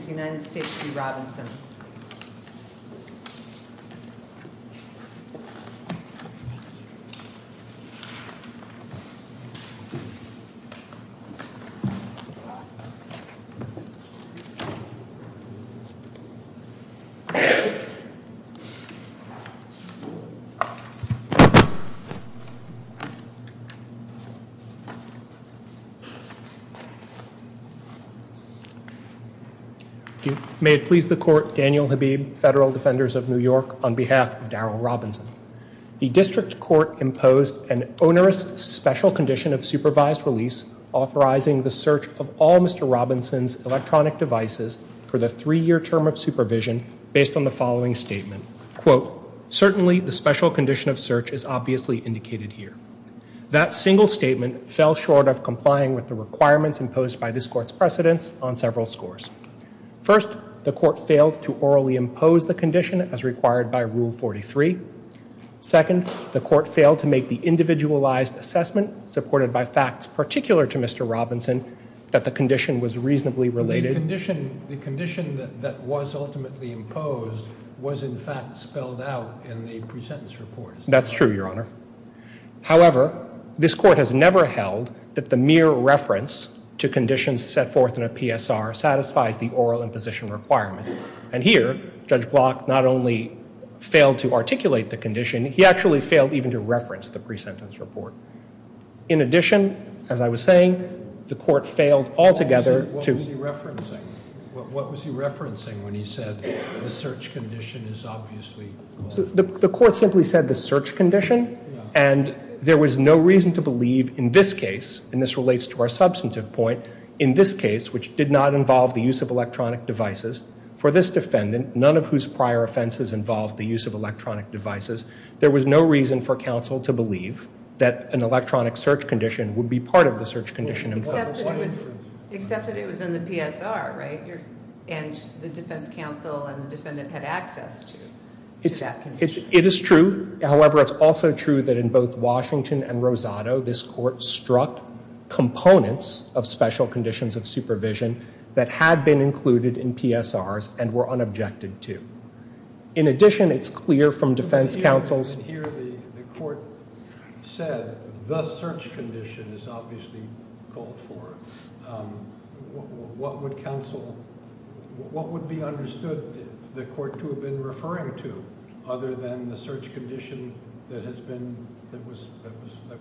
First, please stand when ready. May it please the court, Daniel Habib, Federal Defenders of New York, on behalf of Daryl Robinson. The district court imposed an onerous special condition of supervised release authorizing the search of all Mr. Robinson's electronic devices for the three-year term of supervision based on the following statement. Quote, certainly the special condition of search is obviously indicated here. That single statement fell short of complying with the requirements imposed by this court's precedents on several scores. First, the court failed to orally impose the condition as required by Rule 43. Second, the court failed to make the individualized assessment supported by facts particular to Mr. Robinson that the condition was reasonably related. The condition that was ultimately imposed was in fact spelled out in the presentence report. That's true, Your Honor. However, this court has never held that the mere reference to conditions set forth in a PSR satisfies the oral imposition requirement. And here, Judge Block not only failed to articulate the condition, he actually failed even to reference the presentence report. In addition, as I was saying, the court failed altogether to What was he referencing? What was he referencing when he said the search condition is obviously The court simply said the search condition, and there was no reason to believe in this case, and this relates to our substantive point, in this case, which did not involve the use of electronic devices, for this defendant, none of whose prior offenses involved the use of electronic devices, there was no reason for counsel to believe that an electronic search condition would be part of the search condition. Except that it was in the PSR, right? And the defense counsel and the defendant had access to that condition. It is true. However, it's also true that in both Washington and Rosado, this court struck components of special conditions of supervision that had been included in PSRs and were unobjected to. In addition, it's clear from defense counsel's Here the court said the search condition is obviously called for. What would counsel, what would be understood the court to have been referring to other than the search condition that has been, that was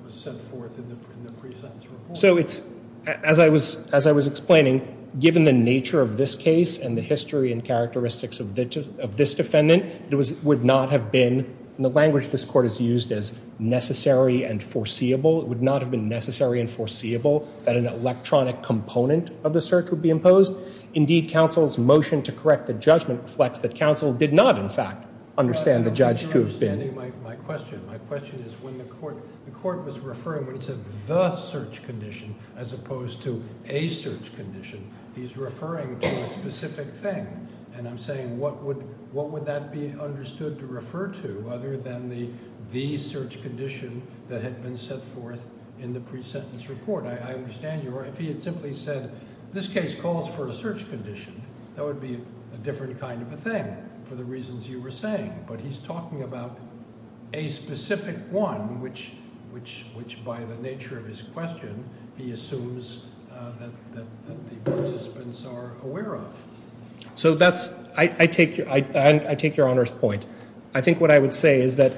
set forth in the pre-sentence report? So it's, as I was explaining, given the nature of this case and the history and characteristics of this defendant, it would not have been, in the language this court has used as necessary and foreseeable, it would not have been necessary and foreseeable that an electronic component of the search would be imposed. Indeed, counsel's motion to correct the judgment reflects that counsel did not, in fact, understand the judge to have been. My question is when the court was referring to the search condition as opposed to a search condition, he's referring to a specific thing. And I'm saying what would that be understood to refer to other than the search condition that had been set forth in the pre-sentence report? I understand you. Or if he had simply said this case calls for a search condition, that would be a different kind of a thing for the reasons you were saying. But he's talking about a specific one which, by the nature of his question, he assumes that the participants are aware of. So that's, I take your Honor's point. I think what I would say is that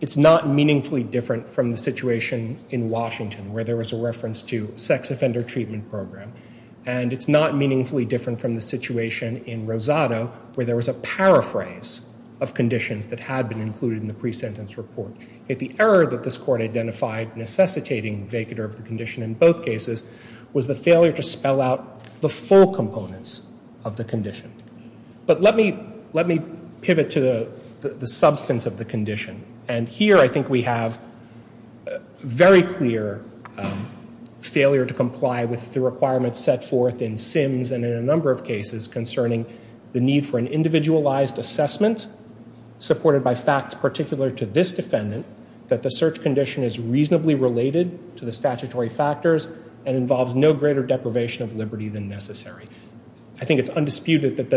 it's not meaningfully different from the situation in Washington where there was a reference to sex offender treatment program. And it's not meaningfully different from the situation in Rosado where there was a paraphrase of conditions that had been included in the pre-sentence report. If the error that this court identified necessitating vacater of the condition in both cases was the failure to spell out the full components of the condition. But let me pivot to the substance of the condition. And here I think we have very clear failure to comply with the requirements set forth in Sims and in a number of cases concerning the need for an individualized assessment supported by facts particular to this defendant that the search condition is reasonably related to the statutory factors and involves no greater deprivation of liberty than necessary. I think it's undisputed that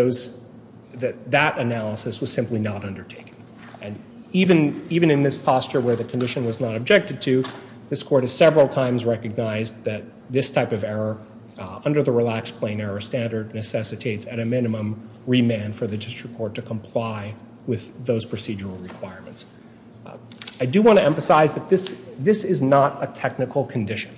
that analysis was simply not undertaken. And even in this posture where the condition was not objected to, this court has several times recognized that this type of error under the relaxed plain error standard necessitates at a minimum remand for the district court to comply with those procedural requirements. I do want to emphasize that this is not a technical condition.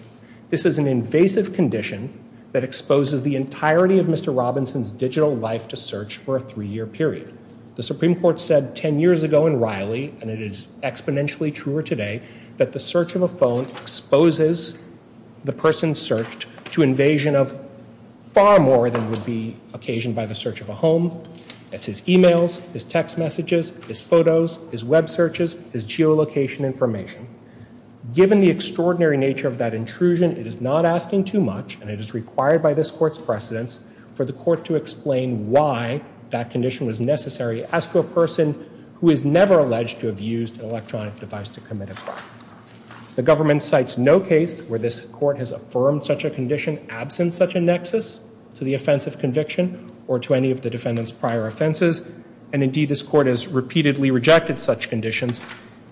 This is an invasive condition that exposes the entirety of Mr. Robinson's digital life to search for a three-year period. The Supreme Court said ten years ago in Riley, and it is exponentially truer today, that the search of a phone exposes the person searched to invasion of far more than would be occasioned by the search of a home. That's his emails, his text messages, his photos, his web searches, his geolocation information. Given the extraordinary nature of that intrusion, it is not asking too much, and it is required by this court's precedence for the court to explain why that condition was necessary as to a person who is never alleged to have used an electronic device to commit a crime. The government cites no case where this court has affirmed such a condition absent such a nexus to the offense of conviction or to any of the defendant's prior offenses. And indeed, this court has repeatedly rejected such conditions,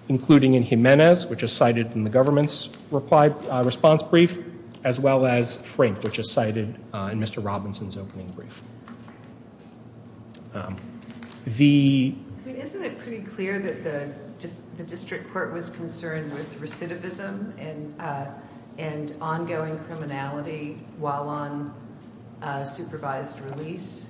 including in Jimenez, which is cited in the government's response brief, as well as Frank, which is cited in Mr. Robinson's opening brief. Isn't it pretty clear that the district court was concerned with recidivism and ongoing criminality while on supervised release?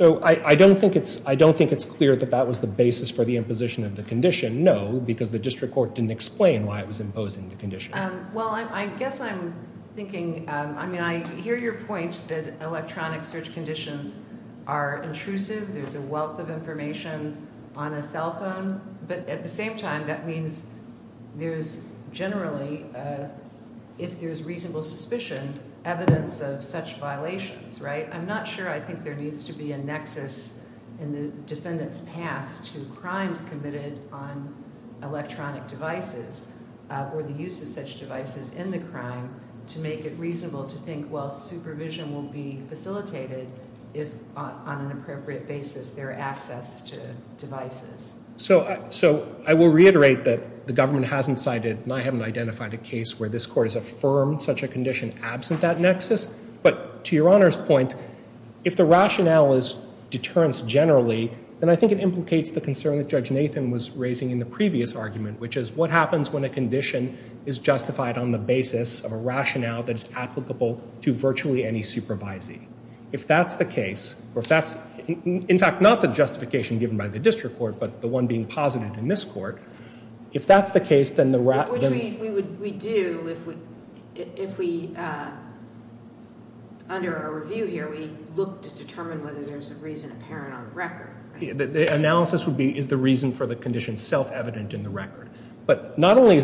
I don't think it's clear that that was the basis for the imposition of the condition. No, because the district court didn't explain why it was imposing the condition. Well, I guess I'm thinking, I mean, I hear your point that electronic search conditions are intrusive. There's a wealth of information on a cell phone. But at the same time, that means there's generally, if there's reasonable suspicion, evidence of such violations, right? I'm not sure I think there needs to be a nexus in the defendant's past to crimes committed on electronic devices or the use of such devices in the crime to make it reasonable to think, well, supervision will be facilitated if on an appropriate basis there are access to devices. So I will reiterate that the government hasn't cited, and I haven't identified a case where this court has affirmed such a condition absent that nexus. But to Your Honor's point, if the rationale is deterrence generally, then I think it implicates the concern that Judge Nathan was raising in the previous argument, which is what happens when a condition is justified on the basis of a rationale that is applicable to virtually any supervisee. If that's the case, or if that's, in fact, not the justification given by the district court, but the one being posited in this court, if that's the case, then the rationale Which we do if we, under our review here, we look to determine whether there's a reason apparent on the record. The analysis is the reason for the condition self-evident in the record. But not only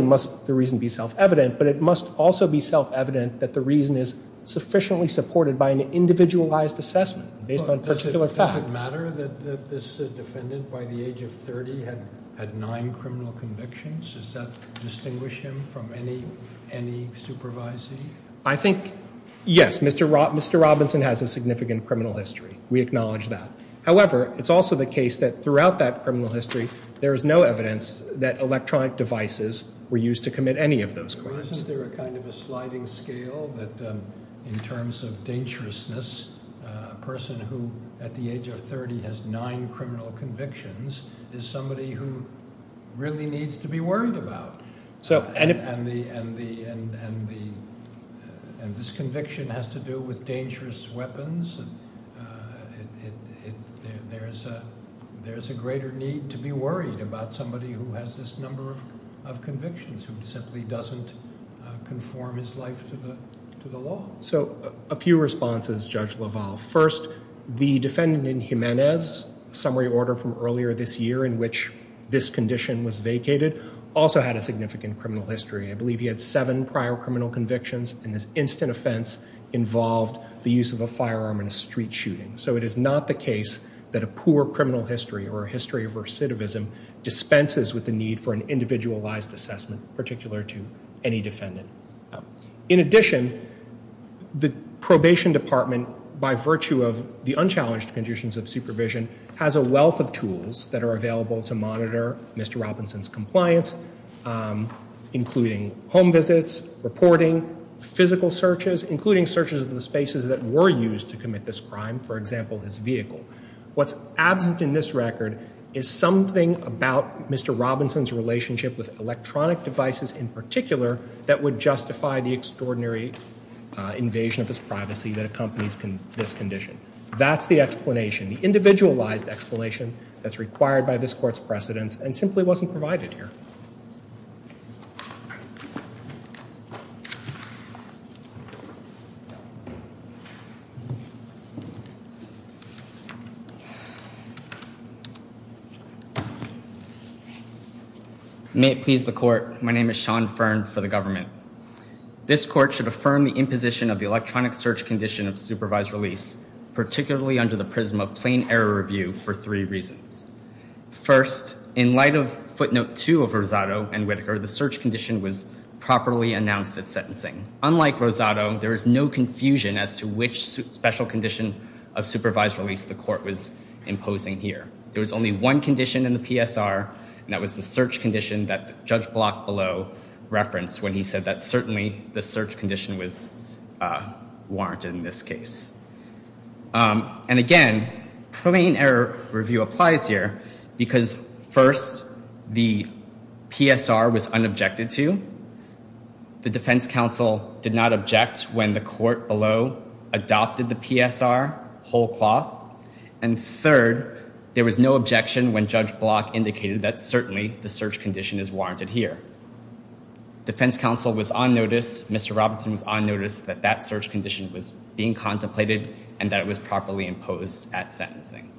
must the reason be self-evident, but it must also be self-evident that the reason is sufficiently supported by an individualized assessment based on particular facts. Does it matter that this defendant, by the age of 30, had nine criminal convictions? Does that distinguish him from any supervisee? I think, yes, Mr. Robinson has a significant criminal history. We acknowledge that. However, it's also the case that throughout that criminal history, there is no evidence that electronic devices were used to commit any of those crimes. Isn't there a kind of a sliding scale that, in terms of dangerousness, a person who, at the age of 30, has nine criminal convictions, is somebody who really needs to be worried about? And this conviction has to do with dangerous weapons. There's a greater need to be worried about somebody who has this number of convictions, who simply doesn't conform his life to the law. So a few responses, Judge LaValle. First, the defendant in Jimenez, a summary order from earlier this year in which this condition was vacated, also had a significant criminal history. I believe he had seven prior criminal convictions, and this instant offense involved the use of a firearm in a street shooting. So it is not the case that a poor criminal history or a history of recidivism dispenses with the need for an individualized assessment, particular to any defendant. In addition, the probation department, by virtue of the unchallenged conditions of supervision, has a wealth of tools that are available to monitor Mr. Robinson's compliance, including home visits, reporting, physical searches, including searches of the spaces that were used to commit this crime, for example, his vehicle. What's absent in this record is something about Mr. Robinson's relationship with electronic devices in particular that would justify the extraordinary invasion of his privacy that accompanies this condition. That's the explanation, the individualized explanation that's required by this Court's precedents and simply wasn't provided here. May it please the Court, my name is Sean Fearn for the government. This Court should affirm the imposition of the electronic search condition of supervised release, particularly under the prism of plain error review for three reasons. First, in light of footnote two of her residual, the search condition was properly announced at sentencing. Unlike Rosado, there is no confusion as to which special condition of supervised release the Court was imposing here. There was only one condition in the PSR, and that was the search condition that Judge Block below referenced when he said that certainly the search condition was warranted in this case. And again, plain error review applies here because first, the PSR was unobjected to. The defense counsel did not object when the court below adopted the PSR whole cloth. And third, there was no objection when Judge Block indicated that certainly the search condition is warranted here. Defense counsel was on notice, Mr. Robinson was on notice that that search condition was being contemplated and that it was properly imposed at sentencing.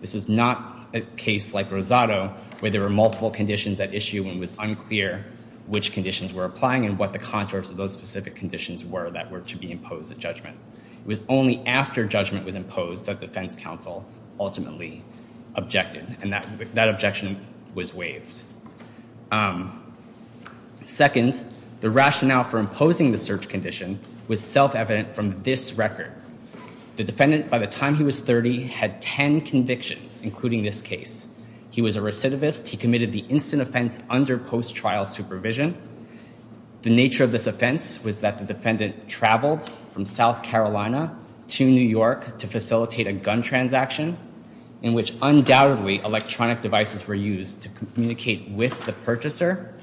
This is not a case like Rosado where there were multiple conditions at issue and it was unclear which conditions were applying and what the contours of those specific conditions were that were to be imposed at judgment. It was only after judgment was imposed that defense counsel ultimately objected, and that objection was waived. Second, the rationale for imposing the search condition was self-evident from this record. The defendant, by the time he was 30, had 10 convictions, including this case. He was a recidivist. He committed the instant offense under post-trial supervision. The nature of this offense was that the defendant traveled from South Carolina to New York to facilitate a gun transaction in which undoubtedly electronic devices were used to communicate with the purchaser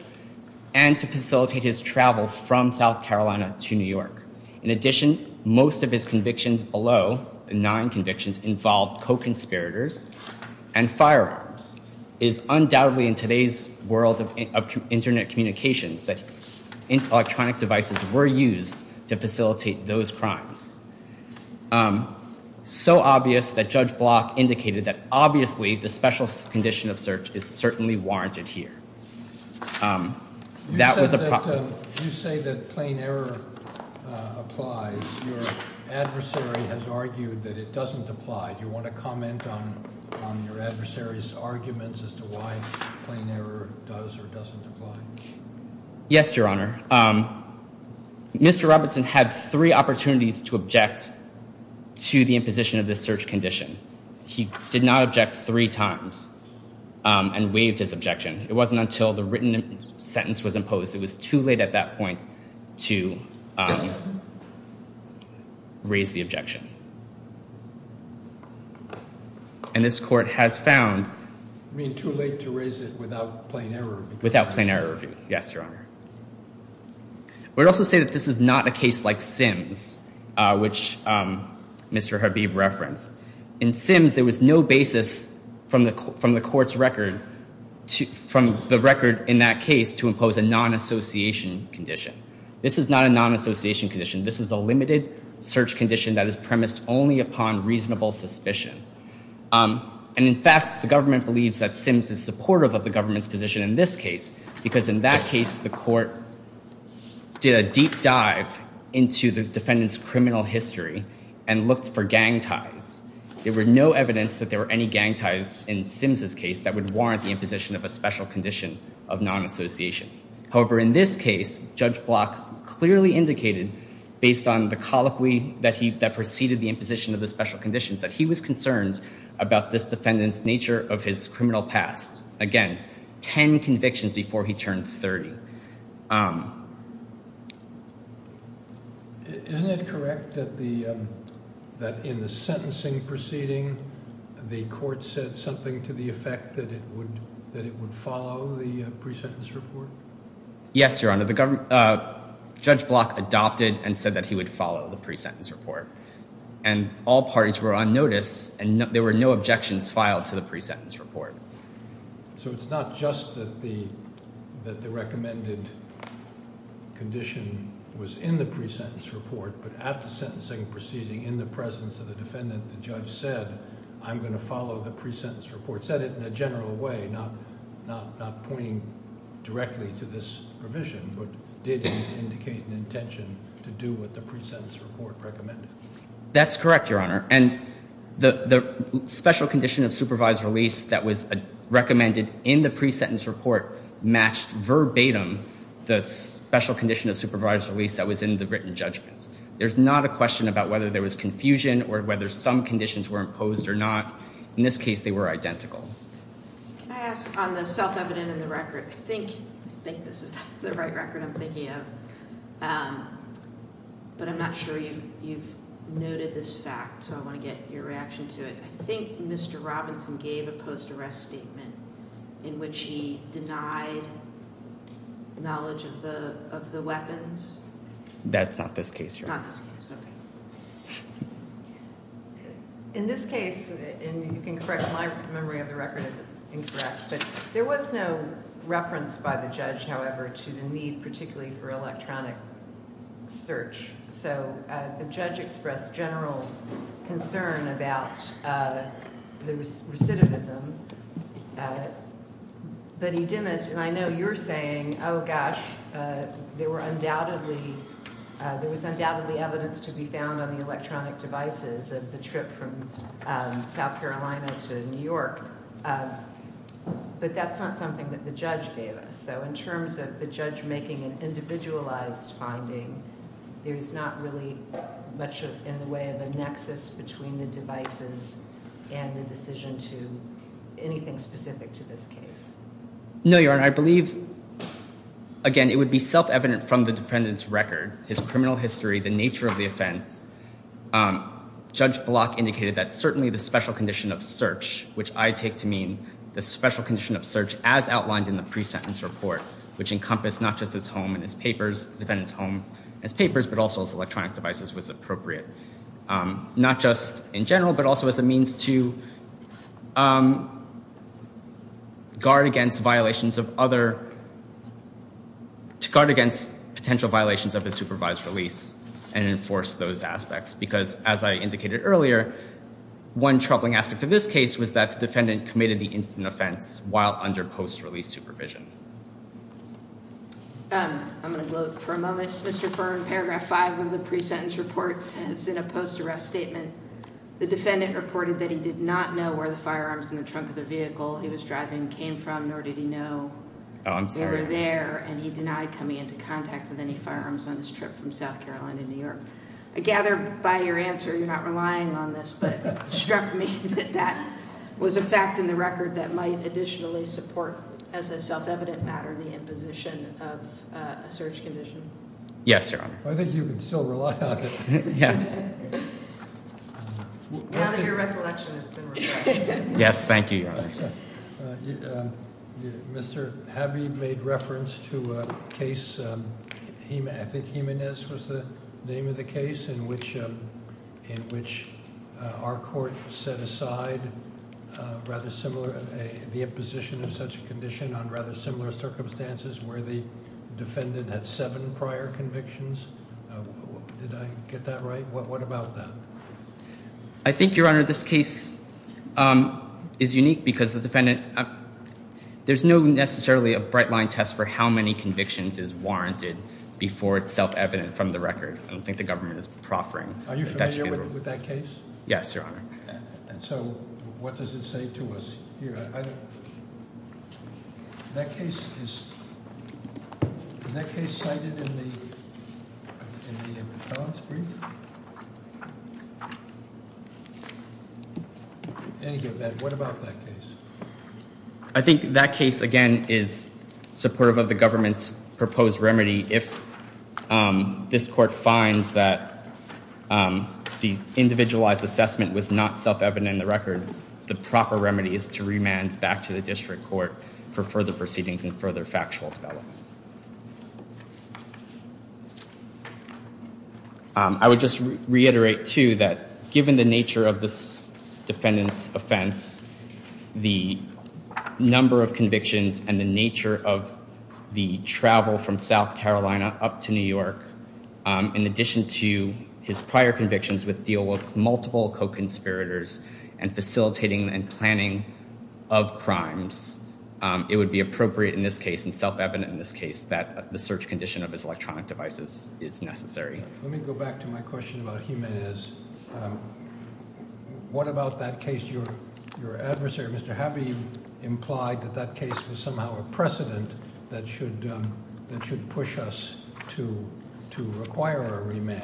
and to facilitate his travel from South Carolina to New York. In addition, most of his convictions below, nine convictions, involved co-conspirators and firearms. It is undoubtedly in today's world of Internet communications that electronic devices were used to facilitate those crimes. So obvious that Judge Block indicated that obviously the special condition of search is certainly warranted here. That was a problem. You say that plain error applies. Your adversary has argued that it doesn't apply. Do you want to comment on your adversary's arguments as to why plain error does or doesn't apply? Yes, Your Honor. Mr. Robinson had three opportunities to object to the imposition of this search condition. He did not object three times and waived his objection. It wasn't until the written sentence was imposed. It was too late at that point to raise the objection. And this court has found... You mean too late to raise it without plain error? Without plain error, yes, Your Honor. I would also say that this is not a case like Sims, which Mr. Habib referenced. In Sims, there was no basis from the court's record in that case to impose a non-association condition. This is not a non-association condition. This is a limited search condition that is premised only upon reasonable suspicion. And in fact, the government believes that Sims is supportive of the government's position in this case because in that case, the court did a deep dive into the defendant's criminal history and looked for gang ties. There was no evidence that there were any gang ties in Sims's case that would warrant the imposition of a special condition of non-association. However, in this case, Judge Block clearly indicated, based on the colloquy that preceded the imposition of the special conditions, that he was concerned about this defendant's nature of his criminal past. Again, 10 convictions before he turned 30. Isn't it correct that in the sentencing proceeding, the court said something to the effect that it would follow the pre-sentence report? Yes, Your Honor. Judge Block adopted and said that he would follow the pre-sentence report. And all parties were on notice, and there were no objections filed to the pre-sentence report. So it's not just that the recommended condition was in the pre-sentence report, but at the sentencing proceeding, in the presence of the defendant, the judge said, I'm going to follow the pre-sentence report. He said it in a general way, not pointing directly to this provision, but did indicate an intention to do what the pre-sentence report recommended. That's correct, Your Honor. And the special condition of supervised release that was recommended in the pre-sentence report matched verbatim the special condition of supervised release that was in the written judgments. There's not a question about whether there was confusion or whether some conditions were imposed or not. In this case, they were identical. Can I ask on the self-evident in the record, I think this is the right record I'm thinking of, but I'm not sure you've noted this fact, so I want to get your reaction to it. I think Mr. Robinson gave a post-arrest statement in which he denied knowledge of the weapons. That's not this case, Your Honor. Not this case, okay. In this case, and you can correct my memory of the record if it's incorrect, but there was no reference by the judge, however, to the need particularly for electronic search, so the judge expressed general concern about the recidivism, but he didn't, and I know you're saying, oh, gosh, there was undoubtedly evidence to be found on the electronic devices of the trip from South Carolina to New York, but that's not something that the judge gave us, so in terms of the judge making an individualized finding, there's not really much in the way of a nexus between the devices and the decision to anything specific to this case. No, Your Honor, I believe, again, it would be self-evident from the defendant's record, his criminal history, the nature of the offense. Judge Block indicated that certainly the special condition of search, which I take to mean the special condition of search as outlined in the pre-sentence report, which encompassed not just his home and his papers, the defendant's home and his papers, but also his electronic devices was appropriate, not just in general, but also as a means to guard against violations of other, to guard against potential violations of his supervised release and enforce those aspects, because as I indicated earlier, one troubling aspect of this case was that the defendant committed the incident offense while under post-release supervision. I'm going to go for a moment, Mr. Firm. Paragraph 5 of the pre-sentence report says in a post-arrest statement the defendant reported that he did not know where the firearms in the trunk of the vehicle he was driving came from, nor did he know they were there, and he denied coming into contact with any firearms on his trip from South Carolina to New York. I gather by your answer you're not relying on this, but it struck me that that was a fact in the record that might additionally support, as a self-evident matter, the imposition of a search condition. Yes, Your Honor. I think you can still rely on it. Yeah. Now that your recollection has been refreshed. Yes, thank you, Your Honor. Mr. Habeeb made reference to a case, I think Jimenez was the name of the case, in which our court set aside rather similar, the imposition of such a condition on rather similar circumstances where the defendant had seven prior convictions. Did I get that right? What about that? I think, Your Honor, this case is unique because there's no necessarily a bright-line test for how many convictions is warranted before it's self-evident from the record. I don't think the government is proffering. Are you familiar with that case? Yes, Your Honor. So what does it say to us here? That case is cited in the appellant's brief? Any of that, what about that case? I think that case, again, is supportive of the government's proposed remedy. If this court finds that the individualized assessment was not self-evident in the record, the proper remedy is to remand back to the district court for further proceedings and further factual development. I would just reiterate, too, that given the nature of this defendant's offense, the number of convictions and the nature of the travel from South Carolina up to New York, in addition to his prior convictions with deal with multiple co-conspirators and facilitating and planning of crimes, it would be appropriate in this case and self-evident in this case that the search condition of his electronic devices is necessary. Let me go back to my question about Jiménez. What about that case? Your adversary, Mr. Habeeb, implied that that case was somehow a precedent that should push us to require a remand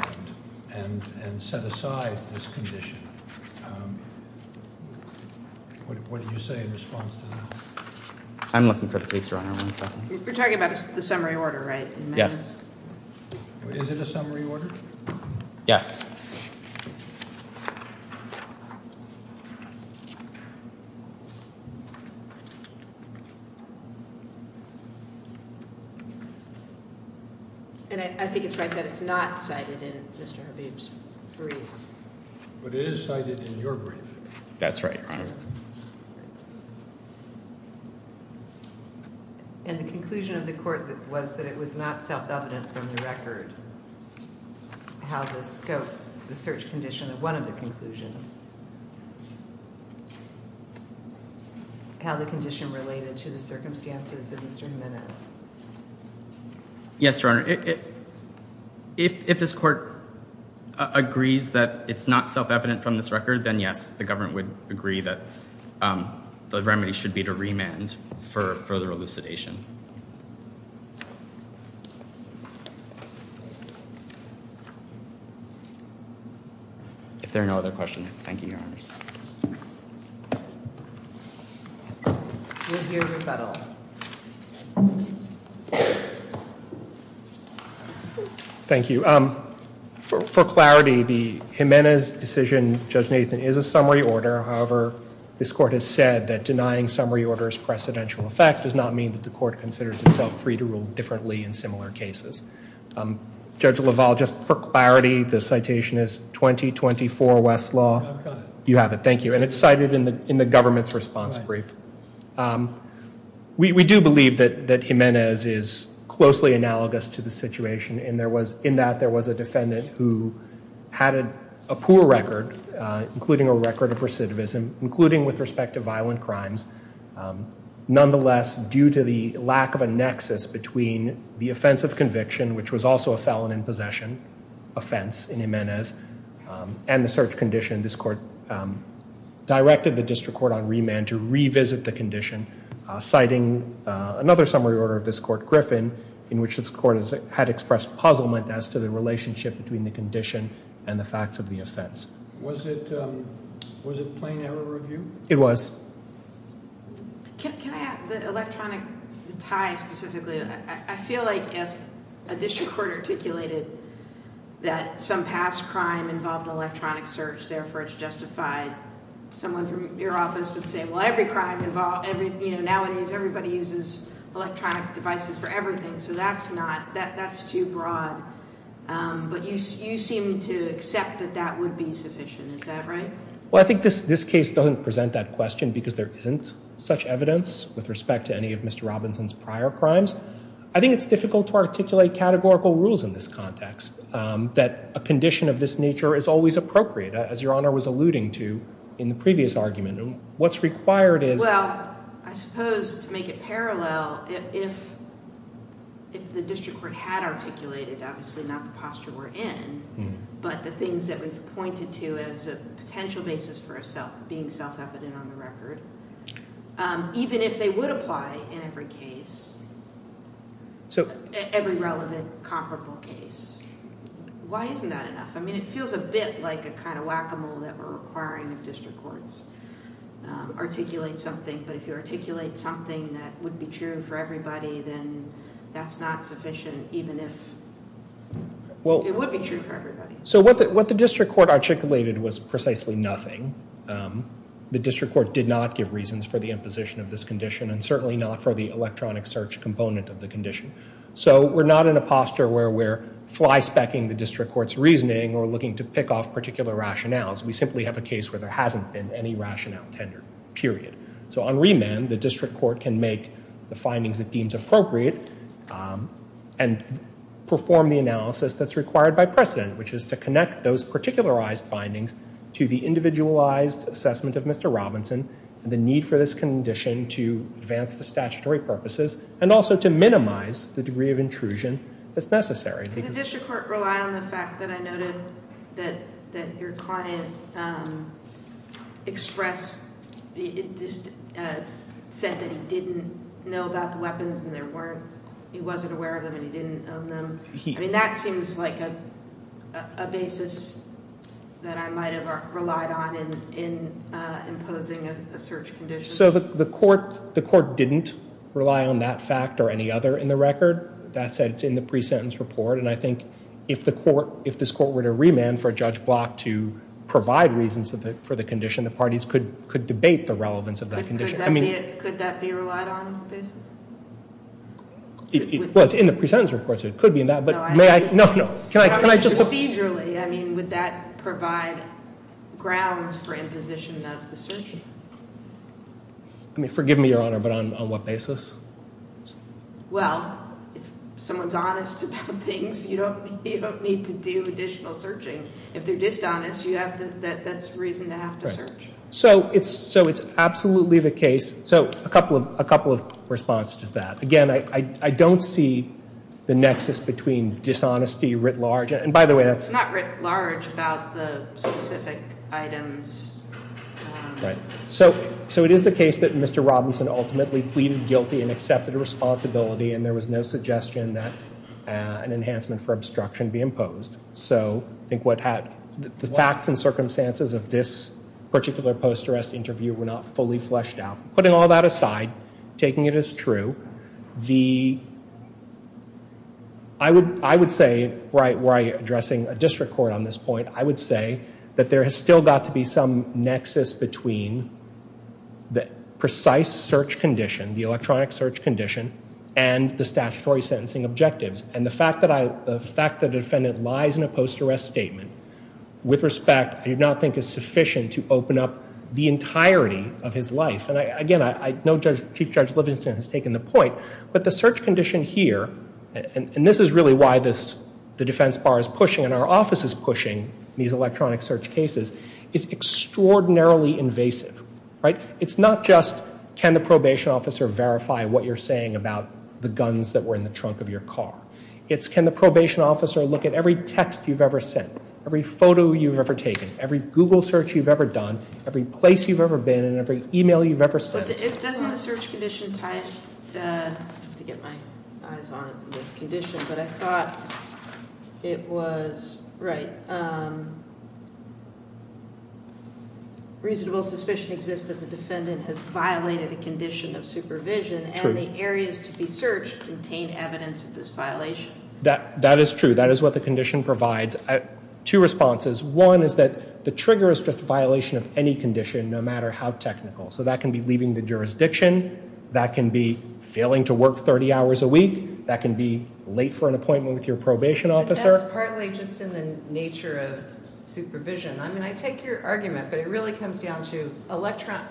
and set aside this condition. What did you say in response to that? I'm looking for the case, Your Honor. One second. You're talking about the summary order, right? Yes. Is it a summary order? Yes. Thank you. And I think it's right that it's not cited in Mr. Habeeb's brief. But it is cited in your brief. That's right, Your Honor. And the conclusion of the court was that it was not self-evident from the record how the scope, the search condition of one of the conclusions, how the condition related to the circumstances of Mr. Jiménez. Yes, Your Honor. If this court agrees that it's not self-evident from this record, then yes, the government would agree that the remedy should be to remand for further elucidation. If there are no other questions, thank you, Your Honors. We'll hear rebuttal. Thank you. For clarity, the Jiménez decision, Judge Nathan, is a summary order. However, this court has said that denying summary order's precedential effect does not mean that the court considers itself free to rule differently in similar cases. Judge LaValle, just for clarity, the citation is 2024 West Law. I've got it. You have it, thank you. And it's cited in the government's response brief. We do believe that Jiménez is closely analogous to the situation in that there was a defendant who had a poor record, including a record of recidivism, including with respect to violent crimes. Nonetheless, due to the lack of a nexus between the offense of conviction, which was also a felon in possession offense in Jiménez, and the search condition, this court directed the district court on remand to revisit the condition, citing another summary order of this court, Griffin, in which this court had expressed puzzlement as to the relationship between the condition and the facts of the offense. Was it plain error review? It was. Can I add the electronic tie specifically? I feel like if a district court articulated that some past crime involved electronic search, therefore it's justified, someone from your office would say, well, nowadays everybody uses electronic devices for everything, so that's too broad. But you seem to accept that that would be sufficient. Is that right? Well, I think this case doesn't present that question because there isn't such evidence with respect to any of Mr. Robinson's prior crimes. I think it's difficult to articulate categorical rules in this context that a condition of this nature is always appropriate, as Your Honor was alluding to in the previous argument. What's required is... Well, I suppose to make it parallel, if the district court had articulated, obviously not the posture we're in, but the things that we've pointed to as a potential basis for being self-evident on the record, even if they would apply in every case, every relevant comparable case, why isn't that enough? I mean, it feels a bit like a kind of whack-a-mole that we're requiring of district courts. Articulate something, but if you articulate something that would be true for everybody, then that's not sufficient, even if it would be true for everybody. So what the district court articulated was precisely nothing. The district court did not give reasons for the imposition of this condition, and certainly not for the electronic search component of the condition. So we're not in a posture where we're fly-specking the district court's reasoning or looking to pick off particular rationales. We simply have a case where there hasn't been any rationale tendered, period. So on remand, the district court can make the findings it deems appropriate and perform the analysis that's required by precedent, which is to connect those particularized findings to the individualized assessment of Mr. Robinson and the need for this condition to advance the statutory purposes and also to minimize the degree of intrusion that's necessary. Did the district court rely on the fact that I noted that your client expressed, said that he didn't know about the weapons and there weren't, he wasn't aware of them and he didn't own them? I mean, that seems like a basis that I might have relied on in imposing a search condition. So the court didn't rely on that fact or any other in the record. That said, it's in the pre-sentence report, and I think if the court, if this court were to remand for Judge Block to provide reasons for the condition, the parties could debate the relevance of that condition. Could that be relied on as a basis? Well, it's in the pre-sentence report, so it could be in that, but may I? No, no. Procedurally, I mean, would that provide grounds for imposition of the search? Forgive me, Your Honor, but on what basis? Well, if someone's honest about things, you don't need to do additional searching. If they're dishonest, that's reason to have to search. So it's absolutely the case. So a couple of responses to that. Again, I don't see the nexus between dishonesty writ large, and by the way, that's... It's not writ large about the specific items. Right. So it is the case that Mr. Robinson ultimately pleaded guilty and accepted responsibility, and there was no suggestion that an enhancement for obstruction be imposed. So I think the facts and circumstances of this particular post-arrest interview were not fully fleshed out. Putting all that aside, taking it as true, I would say, addressing a district court on this point, I would say that there has still got to be some nexus between the precise search condition, the electronic search condition, and the statutory sentencing objectives. And the fact that the defendant lies in a post-arrest statement, with respect, I do not think is sufficient to open up the entirety of his life. And again, I know Chief Judge Livingston has taken the point, but the search condition here, and this is really why the defense bar is pushing and our office is pushing these electronic search cases, is extraordinarily invasive. It's not just can the probation officer verify what you're saying about the guns that were in the trunk of your car. It's can the probation officer look at every text you've ever sent, every photo you've ever taken, every Google search you've ever done, every place you've ever been, and every e-mail you've ever sent. Doesn't the search condition tie in, to get my eyes on the condition, but I thought it was, right, reasonable suspicion exists that the defendant has violated a condition of supervision, and the areas to be searched contain evidence of this violation. That is true. That is what the condition provides. Two responses. One is that the trigger is just a violation of any condition, no matter how technical. So that can be leaving the jurisdiction. That can be failing to work 30 hours a week. That can be late for an appointment with your probation officer. But that's partly just in the nature of supervision. I mean, I take your argument, but it really comes down to electronic.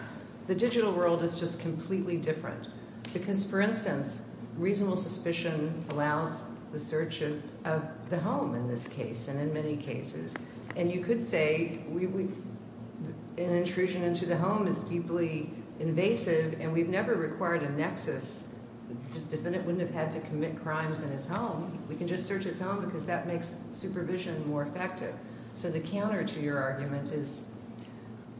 The digital world is just completely different. Because, for instance, reasonable suspicion allows the search of the home in this case, and in many cases. And you could say an intrusion into the home is deeply invasive, and we've never required a nexus. The defendant wouldn't have had to commit crimes in his home. We can just search his home, because that makes supervision more effective. So the counter to your argument is,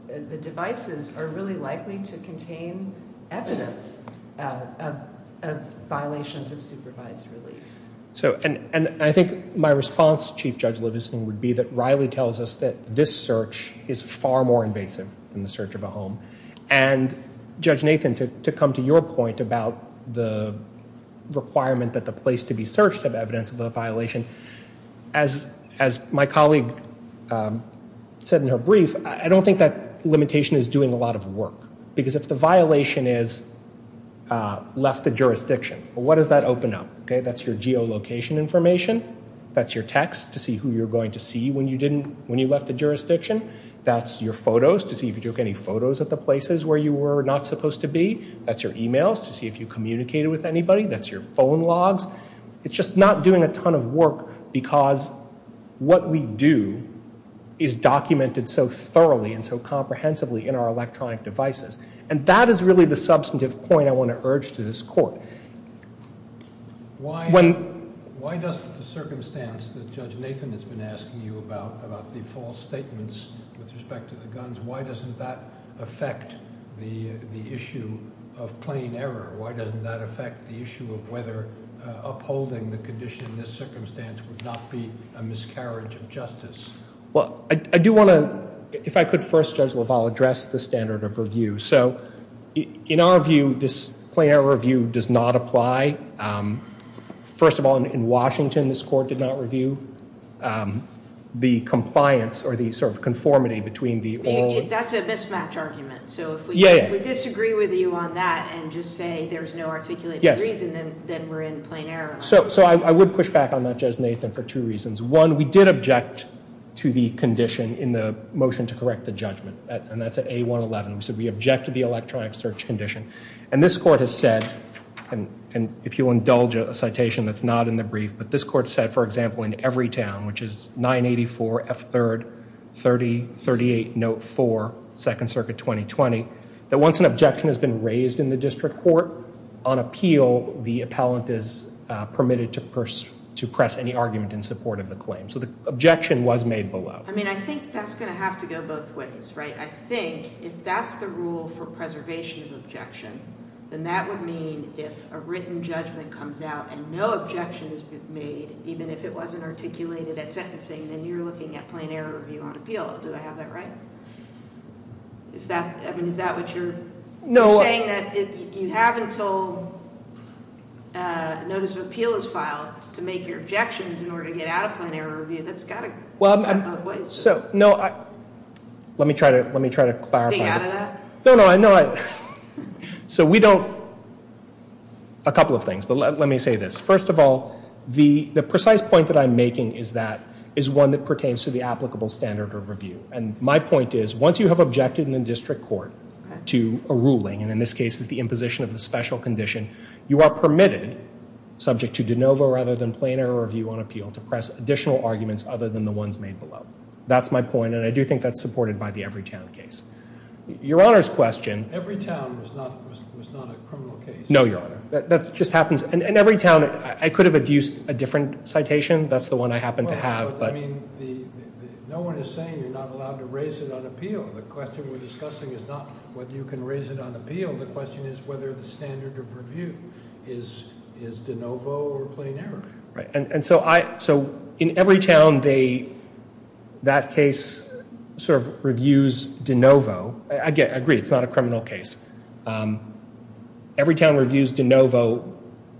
the devices are really likely to contain evidence of violations of supervised release. I think my response, Chief Judge Levison, would be that Riley tells us that this search is far more invasive than the search of a home. And, Judge Nathan, to come to your point about the requirement that the place to be searched have evidence of a violation, as my colleague said in her brief, I don't think that limitation is doing a lot of work. Because if the violation is left the jurisdiction, what does that open up? That's your geolocation information. That's your text to see who you're going to see when you left the jurisdiction. That's your photos to see if you took any photos at the places where you were not supposed to be. That's your e-mails to see if you communicated with anybody. That's your phone logs. It's just not doing a ton of work, because what we do is documented so thoroughly and so comprehensively in our electronic devices. And that is really the substantive point I want to urge to this Court. Why does the circumstance that Judge Nathan has been asking you about, about the false statements with respect to the guns, why doesn't that affect the issue of plain error? Why doesn't that affect the issue of whether upholding the condition in this circumstance would not be a miscarriage of justice? Well, I do want to, if I could first, Judge LaValle, address the standard of review. So in our view, this plain error review does not apply. First of all, in Washington, this Court did not review the compliance or the sort of conformity between the oral... That's a mismatch argument. So if we disagree with you on that and just say there's no articulated reason, then we're in plain error. So I would push back on that, Judge Nathan, for two reasons. One, we did object to the condition in the motion to correct the judgment, and that's at A111. We said we object to the electronic search condition. And this Court has said, and if you'll indulge a citation that's not in the brief, but this Court said, for example, in Everytown, which is 984 F3rd 3038 Note 4, 2nd Circuit 2020, that once an objection has been raised in the district court, on appeal the appellant is permitted to press any argument in support of the claim. So the objection was made below. I mean, I think that's going to have to go both ways, right? I think if that's the rule for preservation of objection, then that would mean if a written judgment comes out and no objection has been made, even if it wasn't articulated at sentencing, then you're looking at plain error review on appeal. Do I have that right? I mean, is that what you're saying, that you have until notice of appeal is filed to make your objections in order to get out of plain error review? That's got to go both ways. So, no, let me try to clarify. Stay out of that? No, no. So we don't. A couple of things, but let me say this. First of all, the precise point that I'm making is that is one that pertains to the applicable standard of review. And my point is once you have objected in the district court to a ruling, and in this case it's the imposition of the special condition, you are permitted, subject to de novo rather than plain error review on appeal, to press additional arguments other than the ones made below. That's my point, and I do think that's supported by the Evertown case. Your Honor's question. Evertown was not a criminal case. No, Your Honor. That just happens. In Evertown, I could have adduced a different citation. That's the one I happen to have. No one is saying you're not allowed to raise it on appeal. The question we're discussing is not whether you can raise it on appeal. The question is whether the standard of review is de novo or plain error. And so in Evertown, that case sort of reviews de novo. I agree, it's not a criminal case. Evertown reviews de novo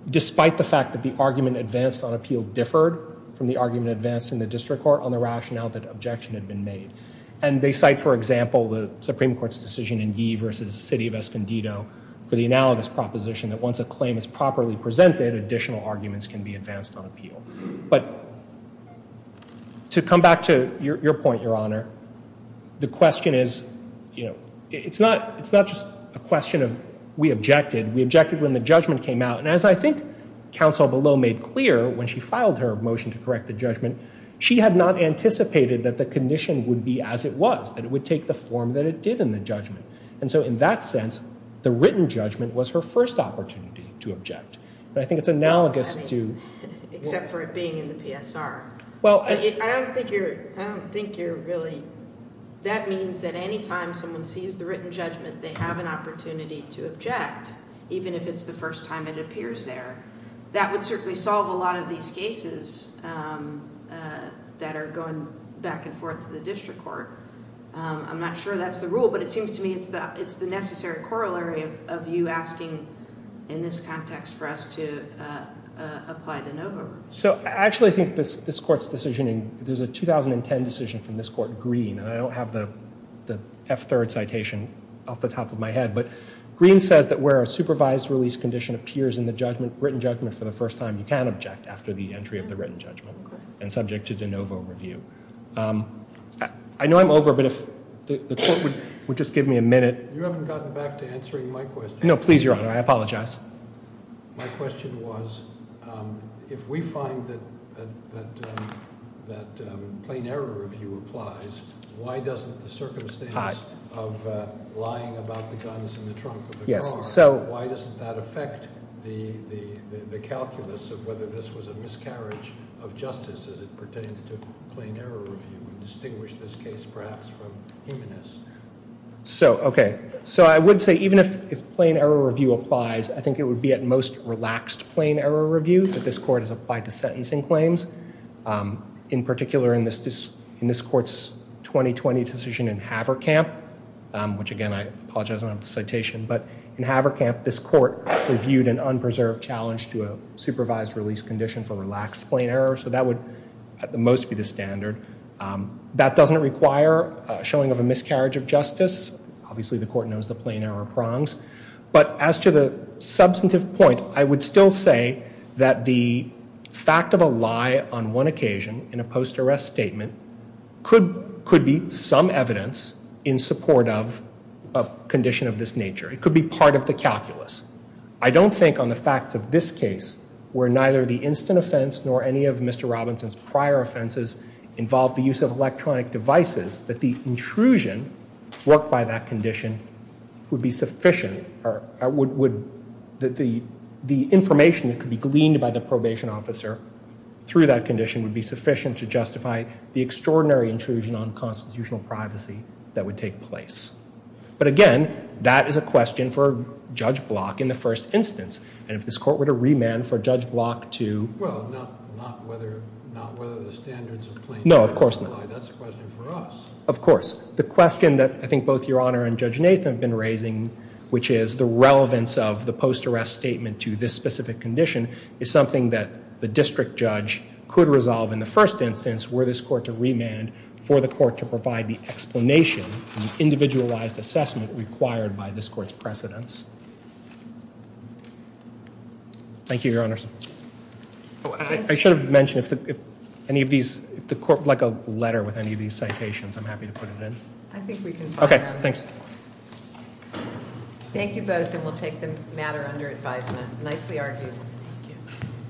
despite the fact that the argument advanced on appeal differed from the argument advanced in the district court on the rationale that objection had been made. And they cite, for example, the Supreme Court's decision in Yee v. City of Escondido for the analogous proposition that once a claim is properly presented, additional arguments can be advanced on appeal. But to come back to your point, Your Honor, the question is, you know, it's not just a question of we objected. We objected when the judgment came out. And as I think counsel below made clear when she filed her motion to correct the judgment, she had not anticipated that the condition would be as it was, that it would take the form that it did in the judgment. And so in that sense, the written judgment was her first opportunity to object. But I think it's analogous to— Well, I mean, except for it being in the PSR. Well, I— I don't think you're really— that means that any time someone sees the written judgment, they have an opportunity to object, even if it's the first time it appears there. That would certainly solve a lot of these cases that are going back and forth to the district court. I'm not sure that's the rule, but it seems to me it's the necessary corollary of you asking in this context for us to apply de novo. So I actually think this court's decision— there's a 2010 decision from this court, Green, and I don't have the F-third citation off the top of my head, but Green says that where a supervised release condition appears in the written judgment for the first time, you can object after the entry of the written judgment and subject to de novo review. I know I'm over, but if the court would just give me a minute. You haven't gotten back to answering my question. No, please, Your Honor. I apologize. My question was, if we find that plain error review applies, why doesn't the circumstance of lying about the guns in the trunk of a car, why doesn't that affect the calculus of whether this was a miscarriage of justice as it pertains to plain error review and distinguish this case perhaps from humanness? So, okay. So I would say even if plain error review applies, I think it would be at most relaxed plain error review that this court has applied to sentencing claims. In particular, in this court's 2020 decision in Haverkamp, which, again, I apologize I don't have the citation, but in Haverkamp this court reviewed an unpreserved challenge to a supervised release condition for relaxed plain error, so that would at the most be the standard. That doesn't require showing of a miscarriage of justice. Obviously the court knows the plain error prongs. But as to the substantive point, I would still say that the fact of a lie on one occasion in a post-arrest statement could be some evidence in support of a condition of this nature. It could be part of the calculus. I don't think on the facts of this case where neither the instant offense nor any of Mr. Robinson's prior offenses involved the use of electronic devices, that the intrusion worked by that condition would be sufficient. The information that could be gleaned by the probation officer through that condition would be sufficient to justify the extraordinary intrusion on constitutional privacy that would take place. But again, that is a question for Judge Block in the first instance. And if this court were to remand for Judge Block to— Well, not whether the standards of plain error apply. No, of course not. That's a question for us. Of course. The question that I think both Your Honor and Judge Nathan have been raising, which is the relevance of the post-arrest statement to this specific condition, is something that the district judge could resolve in the first instance were this court to remand for the court to provide the explanation and the individualized assessment required by this court's precedence. Thank you, Your Honors. I should have mentioned if any of these— if the court would like a letter with any of these citations, I'm happy to put it in. I think we can find out. Okay, thanks. Thank you both, and we'll take the matter under advisement. Nicely argued. Thank you.